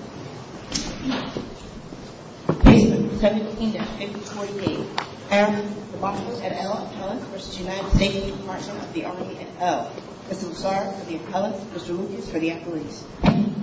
of the Army and O. Mr. Musar for the appellate, Mr. Lucas for the appellate. Mr. Lucas for the appellate. Mr. Lucas for the appellate. Mr. Lucas for the appellate. Mr. Lucas for the appellate.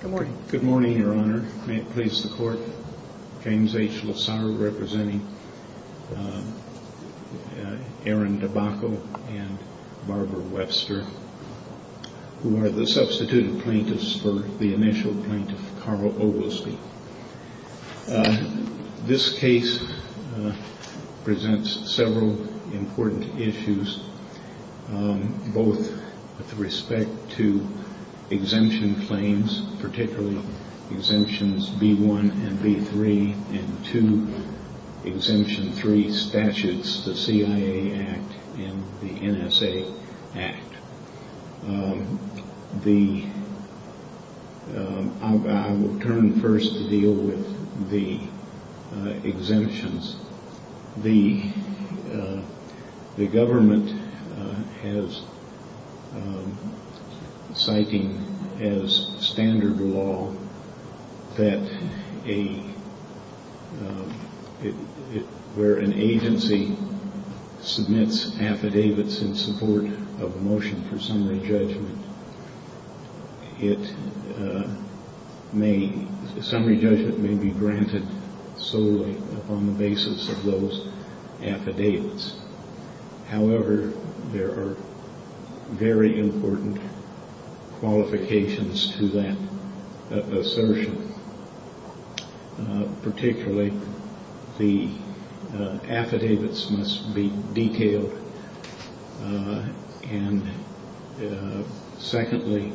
Good morning. Good morning, Your Honor. May it please the Court, James H. Lassaro representing Aaron Dibacco and Barbara Webster, who are the substituted plaintiffs for the initial plaintiff, Carl Oglesby. This case presents several important issues, both with respect to exemption claims, particularly exemptions B-1 and B-3, and two exemption three statutes, the CIA Act and the NSA Act. I will turn first to deal with the exemptions. The government is citing as standard law that where an agency submits affidavits in support of a motion for summary judgment, the summary judgment may be granted solely upon the basis of those affidavits. However, there are very important qualifications to that assertion. Particularly, the affidavits must be detailed, and secondly,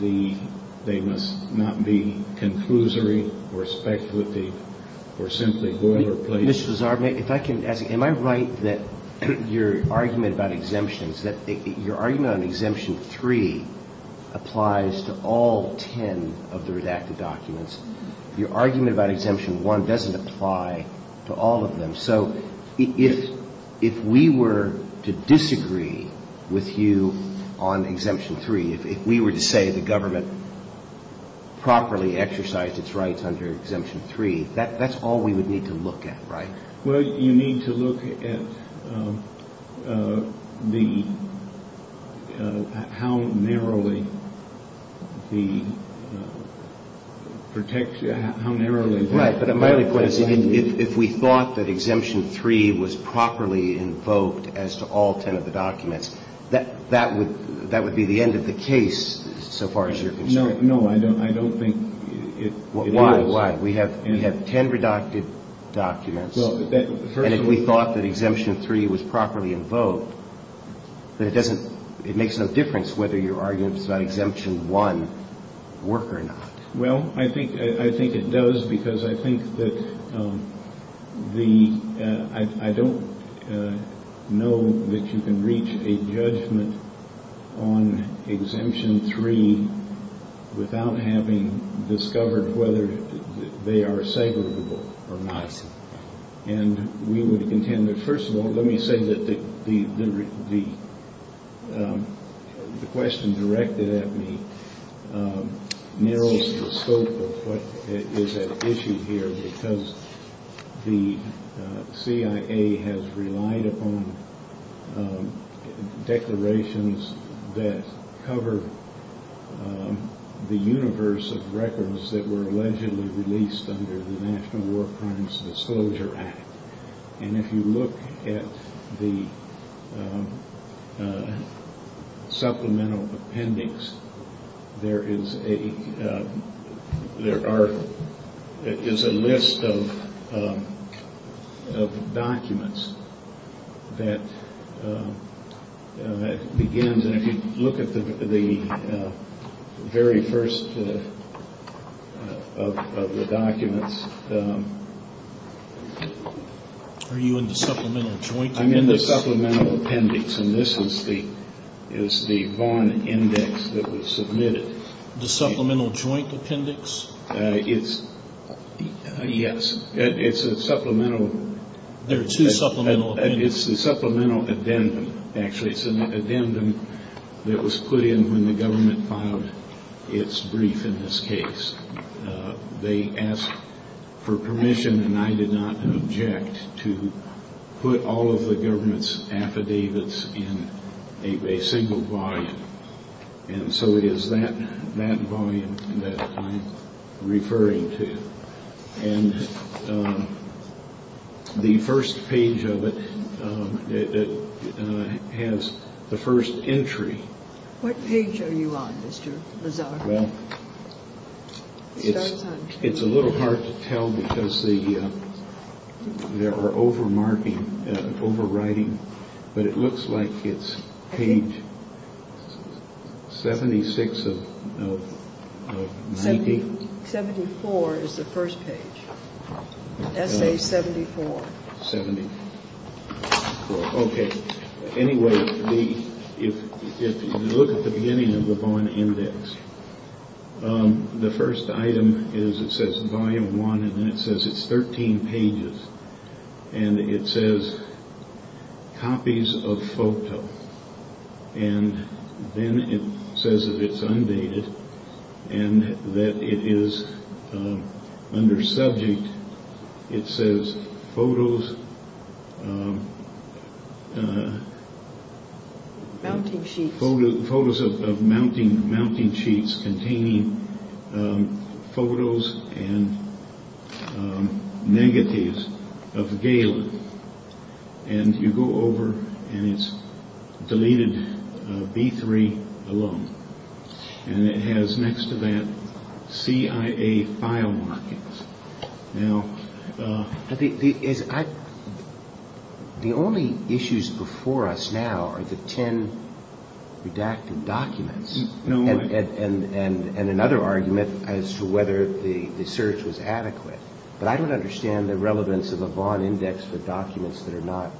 they must not be conclusory or speculative or simply boilerplate. The government is citing as standard law that where an agency submits affidavits in support of a motion for summary judgment, the summary judgment may be granted solely upon the basis of those affidavits. The government is citing as standard law that where an agency submits affidavits in support of a motion for summary judgment, the summary judgment may be granted solely upon the basis of those affidavits. The government is citing as standard law that where an agency submits affidavits in support of a motion for summary judgment, the summary judgment may be granted solely upon the basis of those affidavits. And we would contend that, first of all, let me say that the question directed at me narrows the scope of what is at issue here because the CIA has relied upon declarations that cover the universe of records that were allegedly released under the National War Crimes Act. And if you look at the supplemental appendix, there is a list of documents that begins, and if you look at the very first of the documents, I'm in the supplemental appendix, and this is the Vaughn index that was submitted. The supplemental joint appendix? Yes. It's a supplemental. There are two supplemental appendixes. It's the supplemental addendum, actually. It's an addendum that was put in when the government filed its brief in this case. They asked for permission, and I did not object, to put all of the government's affidavits in a single volume. And so it is that volume that I'm referring to. And the first page of it has the first entry. What page are you on, Mr. Lazar? Well, it's a little hard to tell because there are overwriting, but it looks like it's page 76 of 90. 74 is the first page. Essay 74. Okay. Anyway, if you look at the beginning of the Vaughn index, the first item says volume one, and then it says it's 13 pages. And it says copies of photo. And then it says that it's undated and that it is under subject. It says photos of mounting sheets containing photos and negatives of Galen. And you go over and it's deleted B3 alone. And it has next to that CIA file markings. Now, the only issues before us now are the 10 redacted documents and another argument as to whether the search was adequate. But I don't understand the relevance of a Vaughn index for documents that are not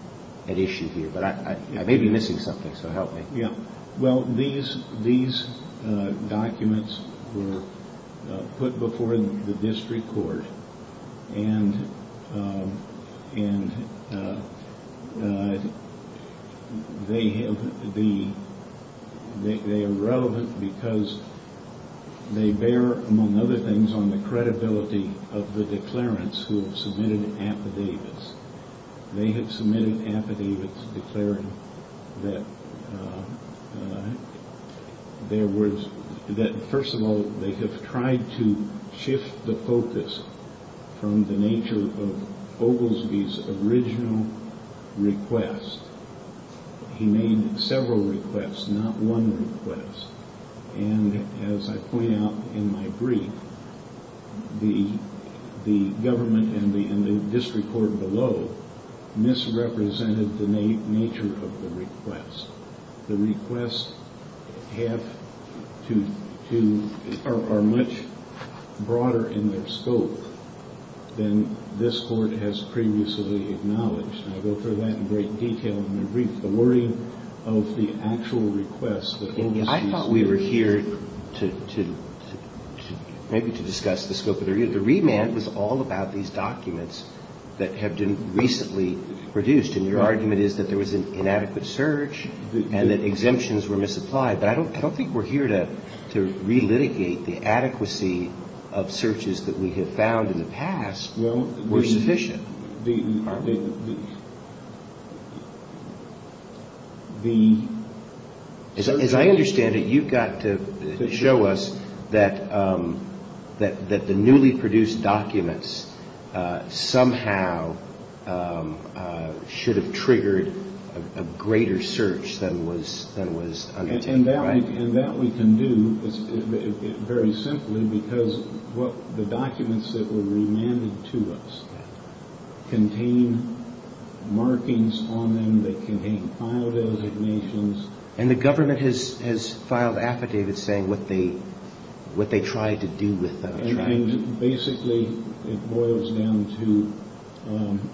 at issue here. But I may be missing something, so help me. Yeah. Well, these documents were put before the district court, and they are relevant because they bear, among other things, on the credibility of the declarants who have submitted affidavits. They have submitted affidavits declaring that, first of all, they have tried to shift the focus from the nature of Oglesby's original request. He made several requests, not one request. And as I point out in my brief, the government and the district court below misrepresented the nature of the request. The requests are much broader in their scope than this court has previously acknowledged. And I go through that in great detail in my brief. I think the wording of the actual request that was used here. I thought we were here to maybe to discuss the scope of the review. The remand was all about these documents that have been recently produced. And your argument is that there was an inadequate search and that exemptions were misapplied. But I don't think we're here to relitigate the adequacy of searches that we have found in the past were sufficient. As I understand it, you've got to show us that the newly produced documents somehow should have triggered a greater search than was undertaken. And that we can do very simply because the documents that were remanded to us contain markings on them that contain file designations. And the government has filed affidavits saying what they tried to do with them. And basically it boils down to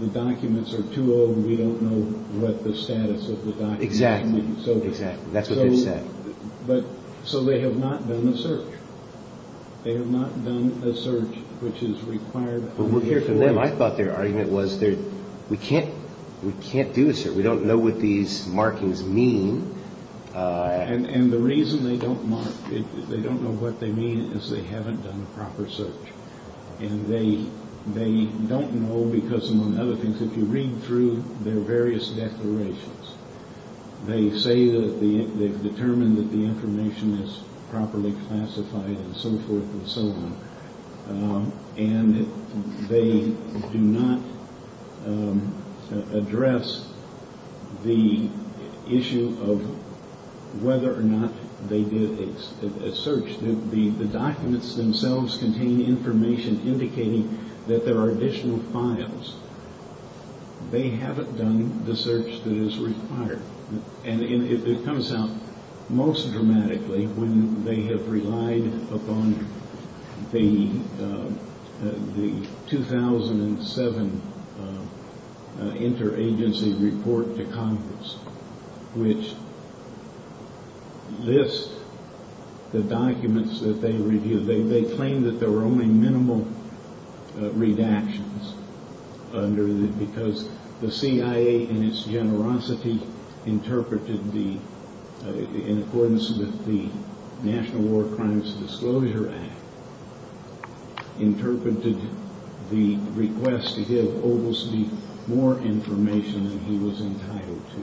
the documents are too old. We don't know what the status of the documents. Exactly. That's what they said. So they have not done a search. They have not done a search which is required. I thought their argument was we can't do a search. We don't know what these markings mean. And the reason they don't know what they mean is they haven't done a proper search. And they don't know because, among other things, if you read through their various declarations, they say that they've determined that the information is properly classified and so forth and so on. And they do not address the issue of whether or not they did a search. The documents themselves contain information indicating that there are additional files. They haven't done the search that is required. And it comes out most dramatically when they have relied upon the 2007 interagency report to Congress, which lists the documents that they reviewed. They claim that there were only minimal redactions because the CIA, in its generosity, interpreted in accordance with the National War Crimes Disclosure Act, interpreted the request to give Oglesby more information than he was entitled to.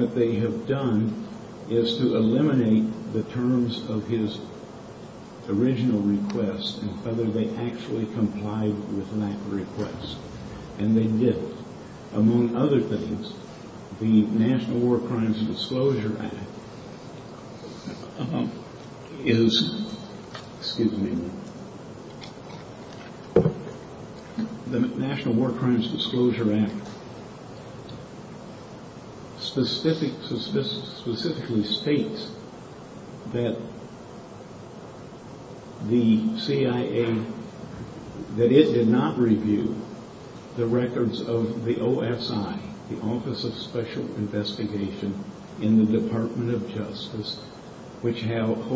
What they have done is to eliminate the terms of his original request and whether they actually complied with that request. And they did. Among other things, the National War Crimes Disclosure Act is, excuse me, the National War Crimes Disclosure Act specifically states that the CIA, that it did not review the records of the OSI, the Office of Special Investigation, in the Department of Justice, which holds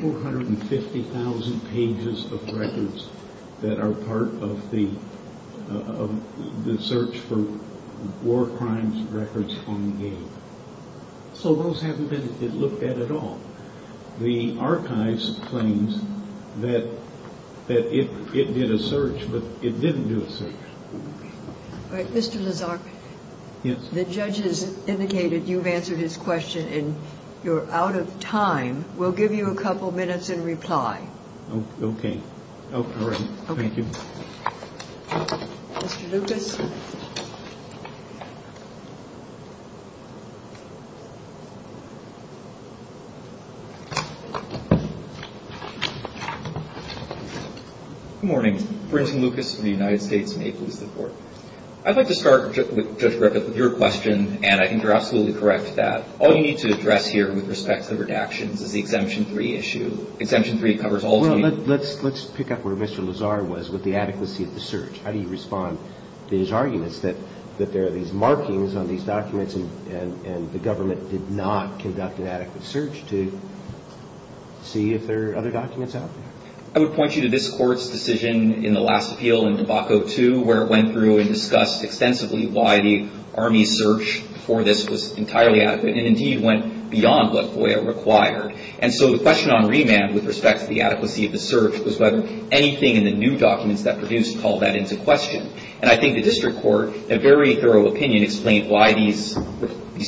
450,000 pages of records that are part of the Search for War Crimes Records Fund Game. So those haven't been looked at at all. The Archives claims that it did a search, but it didn't do a search. All right, Mr. Lazar, the judge has indicated you've answered his question and you're out of time. We'll give you a couple minutes in reply. Okay. Thank you. Mr. Lucas. Good morning. Brinson Lucas of the United States. May it please the Court. I'd like to start, Judge Griffith, with your question, and I think you're absolutely correct that all you need to address here with respect to the redactions is the Exemption 3 issue. Exemption 3 covers all of the issues. Well, let's pick up where Mr. Lazar was with the adequacy of the search. How do you respond to his arguments that there are these markings on these documents and the government did not conduct an adequate search to see if there are other documents out there? I would point you to this Court's decision in the last appeal in debacle 2 where it went through and discussed extensively why the Army search for this was entirely adequate and, indeed, went beyond what FOIA required. And so the question on remand with respect to the adequacy of the search was whether anything in the new documents that produced called that into question. And I think the district court, in a very thorough opinion, explained why these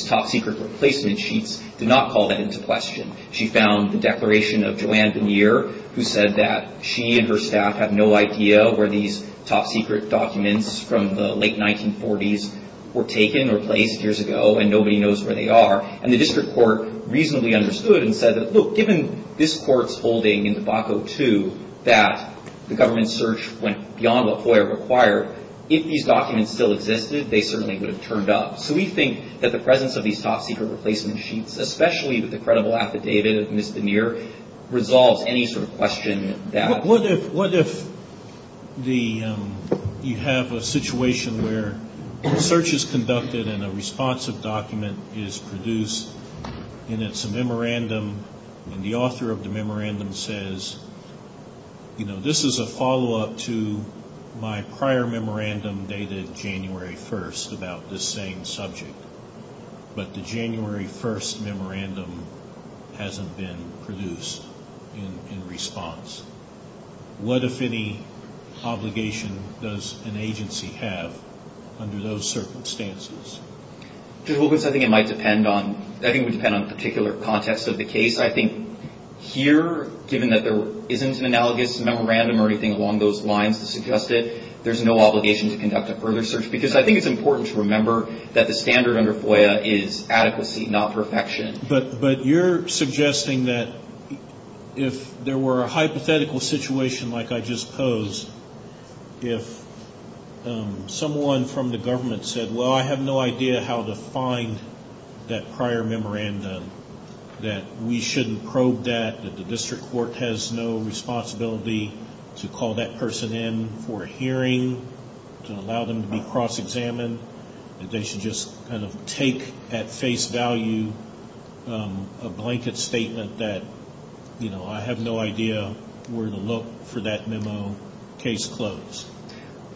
top-secret replacement sheets did not call that into question. She found the declaration of Joanne Veneer, who said that she and her staff had no idea where these top-secret documents from the late 1940s were taken or placed years ago, and nobody knows where they are. And the district court reasonably understood and said that, look, given this Court's holding in debacle 2 that the government's search went beyond what FOIA required, if these documents still existed, they certainly would have turned up. So we think that the presence of these top-secret replacement sheets, especially with the credible affidavit of Ms. Veneer, resolves any sort of question that. What if you have a situation where a search is conducted and a responsive document is produced and it's a memorandum and the author of the memorandum says, you know, this is a follow-up to my prior memorandum dated January 1st about this same subject. But the January 1st memorandum hasn't been produced in response. What, if any, obligation does an agency have under those circumstances? Judge Wilkins, I think it might depend on the particular context of the case. I think here, given that there isn't an analogous memorandum or anything along those lines to suggest it, there's no obligation to conduct a further search, because I think it's important to remember that the standard under FOIA is adequacy, not perfection. But you're suggesting that if there were a hypothetical situation like I just posed, if someone from the government said, well, I have no idea how to find that prior memorandum, that we shouldn't probe that, that the district court has no responsibility to call that person in for a hearing, to allow them to be cross-examined, that they should just kind of take at face value a blanket statement that, you know, I have no idea where to look for that memo, case closed.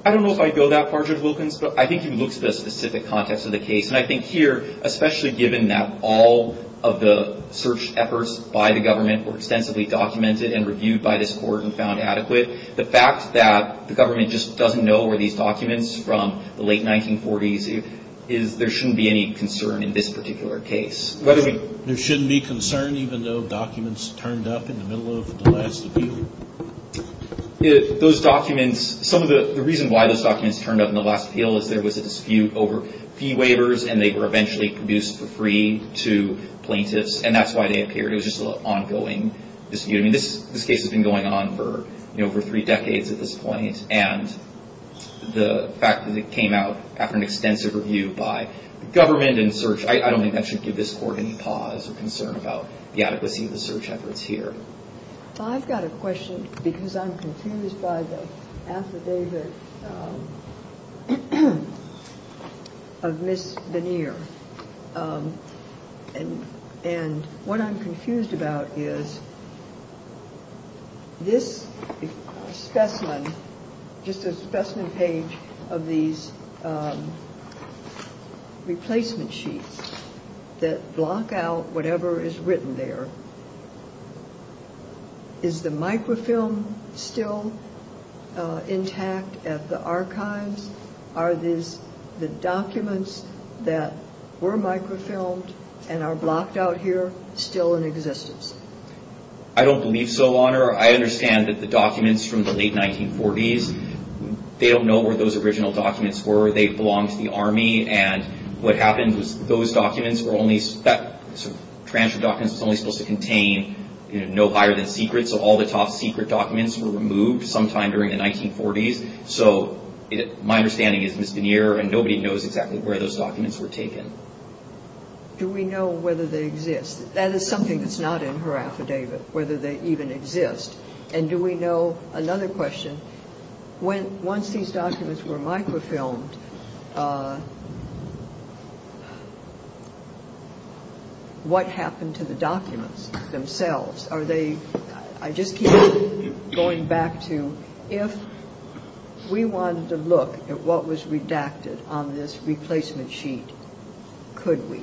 I don't know if I'd go that far, Judge Wilkins, but I think you can look at the specific context of the case. And I think here, especially given that all of the search efforts by the government were extensively documented and reviewed by this court and found adequate, the fact that the government just doesn't know where these documents from the late 1940s is, there shouldn't be any concern in this particular case. There shouldn't be concern, even though documents turned up in the middle of the last appeal? Those documents, some of the reason why those documents turned up in the last appeal is there was a dispute over fee waivers, and they were eventually produced for free to plaintiffs, and that's why they appeared. It was just an ongoing dispute. I mean, this case has been going on for, you know, for three decades at this point, and the fact that it came out after an extensive review by the government and search, I don't think that should give this court any pause or concern about the adequacy of the search efforts here. I've got a question, because I'm confused by the affidavit of Ms. Benear. And what I'm confused about is this specimen, just a specimen page of these replacement sheets that block out whatever is written there. Is the microfilm still intact at the archives? Are the documents that were microfilmed and are blocked out here still in existence? I don't believe so, Honor. I understand that the documents from the late 1940s, they don't know where those original documents were. They belonged to the Army, and what happened was those documents were only, that sort of transfer document was only supposed to contain, you know, no higher-than-secret, so all the top-secret documents were removed sometime during the 1940s. So my understanding is Ms. Benear, and nobody knows exactly where those documents were taken. Do we know whether they exist? That is something that's not in her affidavit, whether they even exist. And do we know, another question, once these documents were microfilmed, what happened to the documents themselves? Are they, I just keep going back to if we wanted to look at what was redacted on this replacement sheet, could we?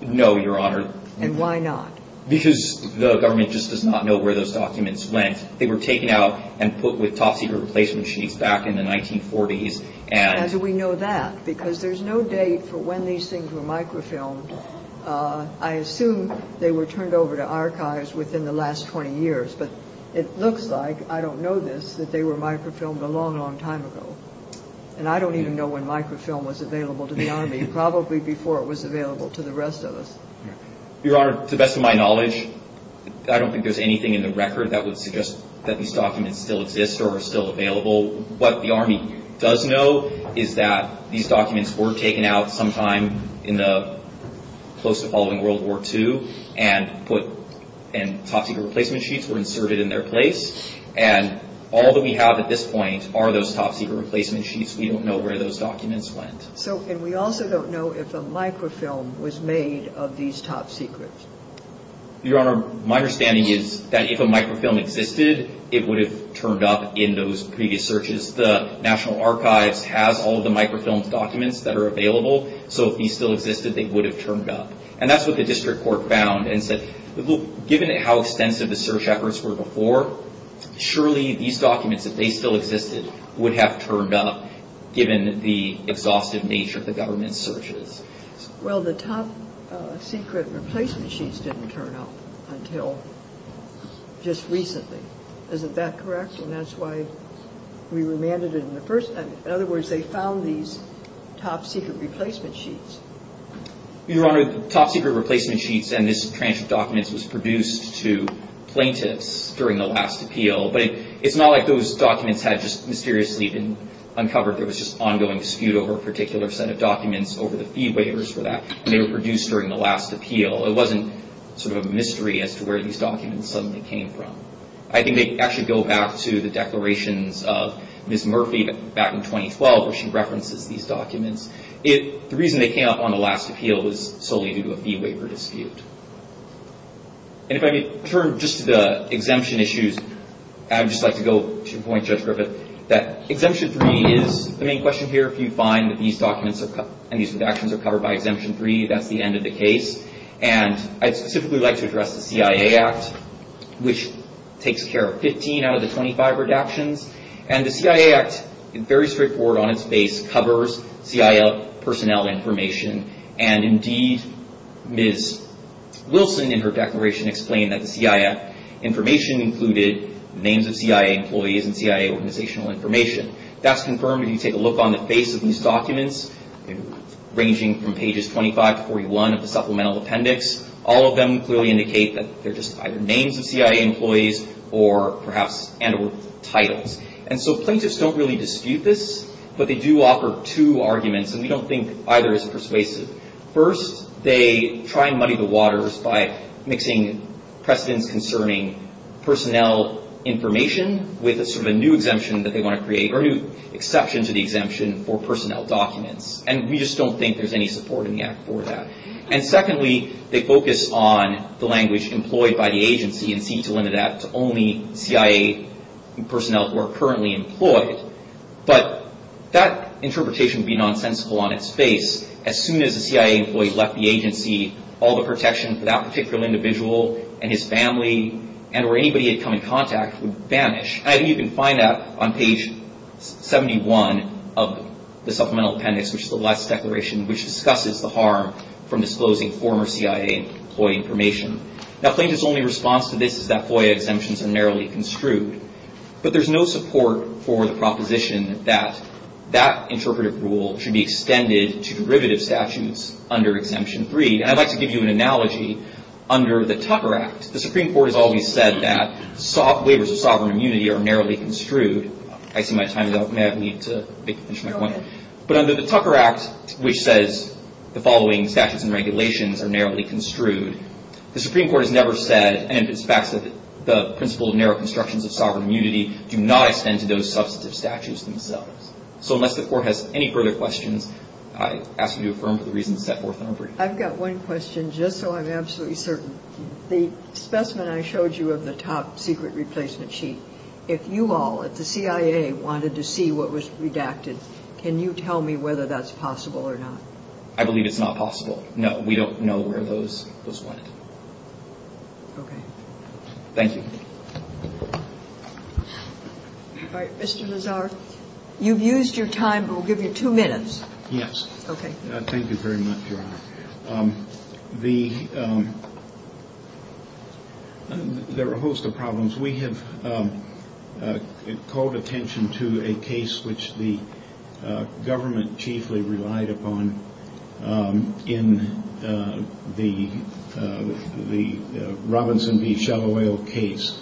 No, Your Honor. And why not? Because the government just does not know where those documents went. They were taken out and put with top-secret replacement sheets back in the 1940s. And do we know that? Because there's no date for when these things were microfilmed. I assume they were turned over to archives within the last 20 years, but it looks like, I don't know this, that they were microfilmed a long, long time ago. And I don't even know when microfilm was available to the Army, probably before it was available to the rest of us. Your Honor, to the best of my knowledge, I don't think there's anything in the record that would suggest that these documents still exist or are still available. What the Army does know is that these documents were taken out sometime in the close to following World War II and top-secret replacement sheets were inserted in their place. And all that we have at this point are those top-secret replacement sheets. We don't know where those documents went. And we also don't know if a microfilm was made of these top-secrets. Your Honor, my understanding is that if a microfilm existed, it would have turned up in those previous searches. The National Archives has all of the microfilm documents that are available, so if these still existed, they would have turned up. And that's what the district court found and said, look, given how extensive the search efforts were before, surely these documents, if they still existed, would have turned up given the exhaustive nature of the government searches. Well, the top-secret replacement sheets didn't turn up until just recently. Isn't that correct? And that's why we remanded it in the first place. In other words, they found these top-secret replacement sheets. Your Honor, the top-secret replacement sheets and these transcript documents was produced to plaintiffs during the last appeal. But it's not like those documents had just mysteriously been uncovered. There was just ongoing dispute over a particular set of documents, over the fee waivers for that, and they were produced during the last appeal. It wasn't sort of a mystery as to where these documents suddenly came from. I think they actually go back to the declarations of Ms. Murphy back in 2012, where she references these documents. The reason they came up on the last appeal was solely due to a fee waiver dispute. And if I could turn just to the exemption issues, I'd just like to go to your point, Judge Griffith, that Exemption 3 is the main question here. If you find that these documents and these redactions are covered by Exemption 3, that's the end of the case. And I'd specifically like to address the CIA Act, which takes care of 15 out of the 25 redactions. And the CIA Act, very straightforward on its face, covers CIA personnel information. And indeed, Ms. Wilson, in her declaration, explained that the CIA information included names of CIA employees and CIA organizational information. That's confirmed if you take a look on the face of these documents, ranging from pages 25 to 41 of the supplemental appendix. All of them clearly indicate that they're just either names of CIA employees or perhaps titles. And so plaintiffs don't really dispute this, but they do offer two arguments, and we don't think either is persuasive. First, they try and muddy the waters by mixing precedents concerning personnel information with a sort of a new exemption that they want to create, or a new exception to the exemption for personnel documents. And we just don't think there's any support in the Act for that. And secondly, they focus on the language employed by the agency and seek to limit that to only CIA personnel who are currently employed. But that interpretation would be nonsensical on its face. As soon as a CIA employee left the agency, all the protection for that particular individual and his family and where anybody had come in contact would vanish. And I think you can find that on page 71 of the supplemental appendix, which is the last declaration, which discusses the harm from disclosing former CIA employee information. Now, plaintiffs' only response to this is that FOIA exemptions are narrowly construed. But there's no support for the proposition that that interpretative rule should be extended to derivative statutes under Exemption 3. And I'd like to give you an analogy. Under the Tucker Act, the Supreme Court has always said that waivers of sovereign immunity are narrowly construed. I see my time is up. May I have a minute to finish my point? Go ahead. But under the Tucker Act, which says the following statutes and regulations are narrowly construed, the Supreme Court has never said, and it's fact that the principle of narrow constructions of sovereign immunity do not extend to those substantive statutes themselves. So unless the Court has any further questions, I ask you to affirm for the reasons set forth in our brief. I've got one question, just so I'm absolutely certain. The specimen I showed you of the top secret replacement sheet, if you all at the CIA wanted to see what was redacted, can you tell me whether that's possible or not? I believe it's not possible. No, we don't know where those went. Okay. Thank you. All right. Mr. Lazar, you've used your time, but we'll give you two minutes. Yes. Okay. Thank you very much, Your Honor. The – there are a host of problems. We have called attention to a case which the government chiefly relied upon in the Robinson v. Shalloway case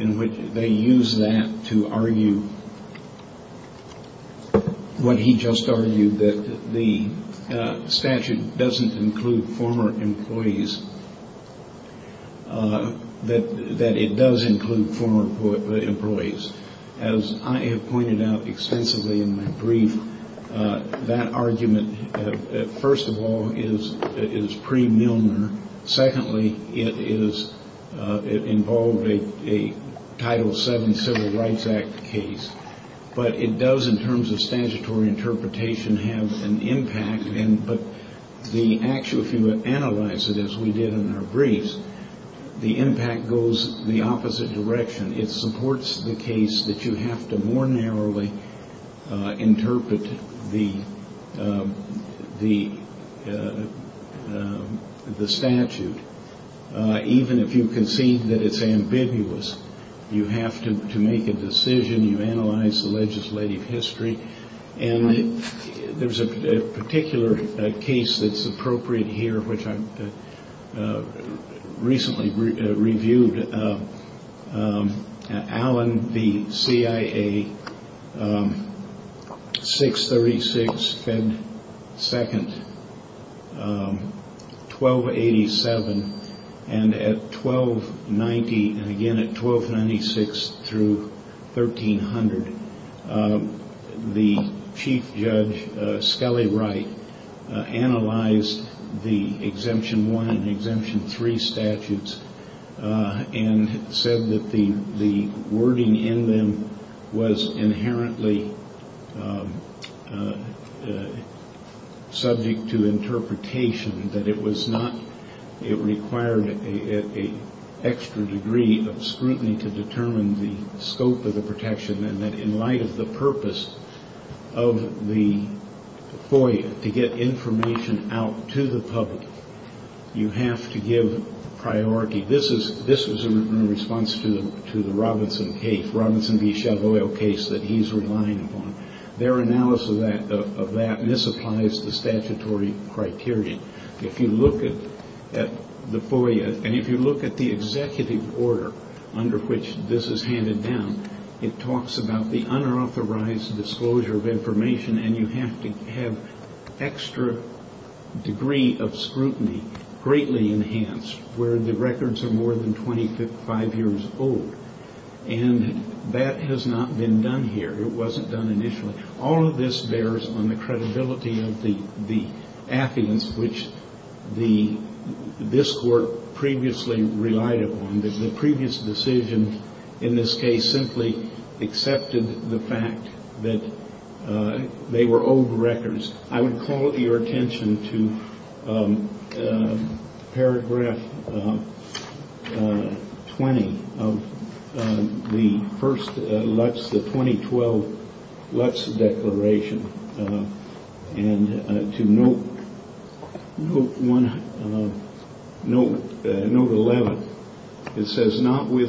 in which they used that to argue what he just argued, that the statute doesn't include former employees, that it does include former employees. As I have pointed out extensively in my brief, that argument, first of all, is pre-Milner. Secondly, it is – it involved a Title VII Civil Rights Act case. But it does, in terms of statutory interpretation, have an impact. But the – if you analyze it, as we did in our briefs, the impact goes the opposite direction. It supports the case that you have to more narrowly interpret the statute. Even if you concede that it's ambiguous, you have to make a decision. You analyze the legislative history. And there's a particular case that's appropriate here, which I recently reviewed, Allen v. CIA, 636 Fed 2nd, 1287. And at 1290, and again at 1296 through 1300, the chief judge, Skelly Wright, analyzed the Exemption 1 and Exemption 3 statutes and said that the wording in them was inherently subject to interpretation. That it was not – it required an extra degree of scrutiny to determine the scope of the protection. And that in light of the purpose of the FOIA, to get information out to the public, you have to give priority. This was in response to the Robinson case, Robinson v. Shavoyle case that he's relying upon. Their analysis of that misapplies the statutory criteria. If you look at the FOIA, and if you look at the executive order under which this is handed down, it talks about the unauthorized disclosure of information. And you have to have extra degree of scrutiny, greatly enhanced, where the records are more than 25 years old. And that has not been done here. It wasn't done initially. All of this bears on the credibility of the affidavits which this Court previously relied upon. The previous decision in this case simply accepted the fact that they were old records. I would call your attention to paragraph 20 of the first LUTs, the 2012 LUTs declaration. And to note 11, it says, Under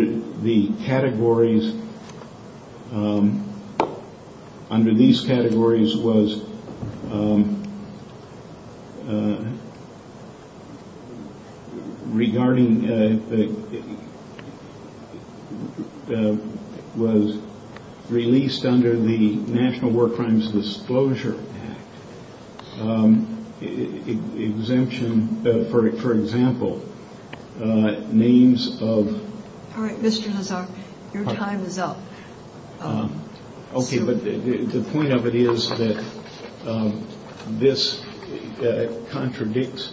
the categories, under these categories was regarding, was released under the National War Crimes Disclosure Act. Exemption, for example, names of. All right, Mr. Hazar, your time is up. Okay. But the point of it is that this contradicts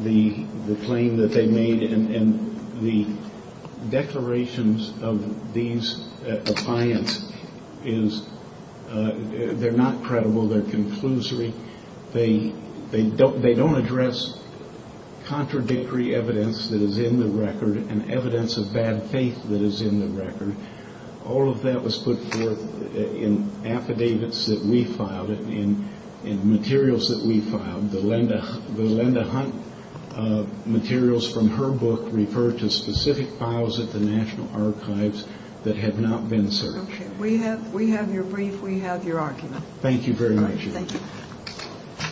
the claim that they made. And the declarations of these clients is they're not credible. They're conclusory. They don't address contradictory evidence that is in the record and evidence of bad faith that is in the record. All of that was put forth in affidavits that we filed, in materials that we filed. The Linda Hunt materials from her book referred to specific files at the National Archives that had not been searched. Okay. We have your brief. We have your argument. Thank you very much. Thank you.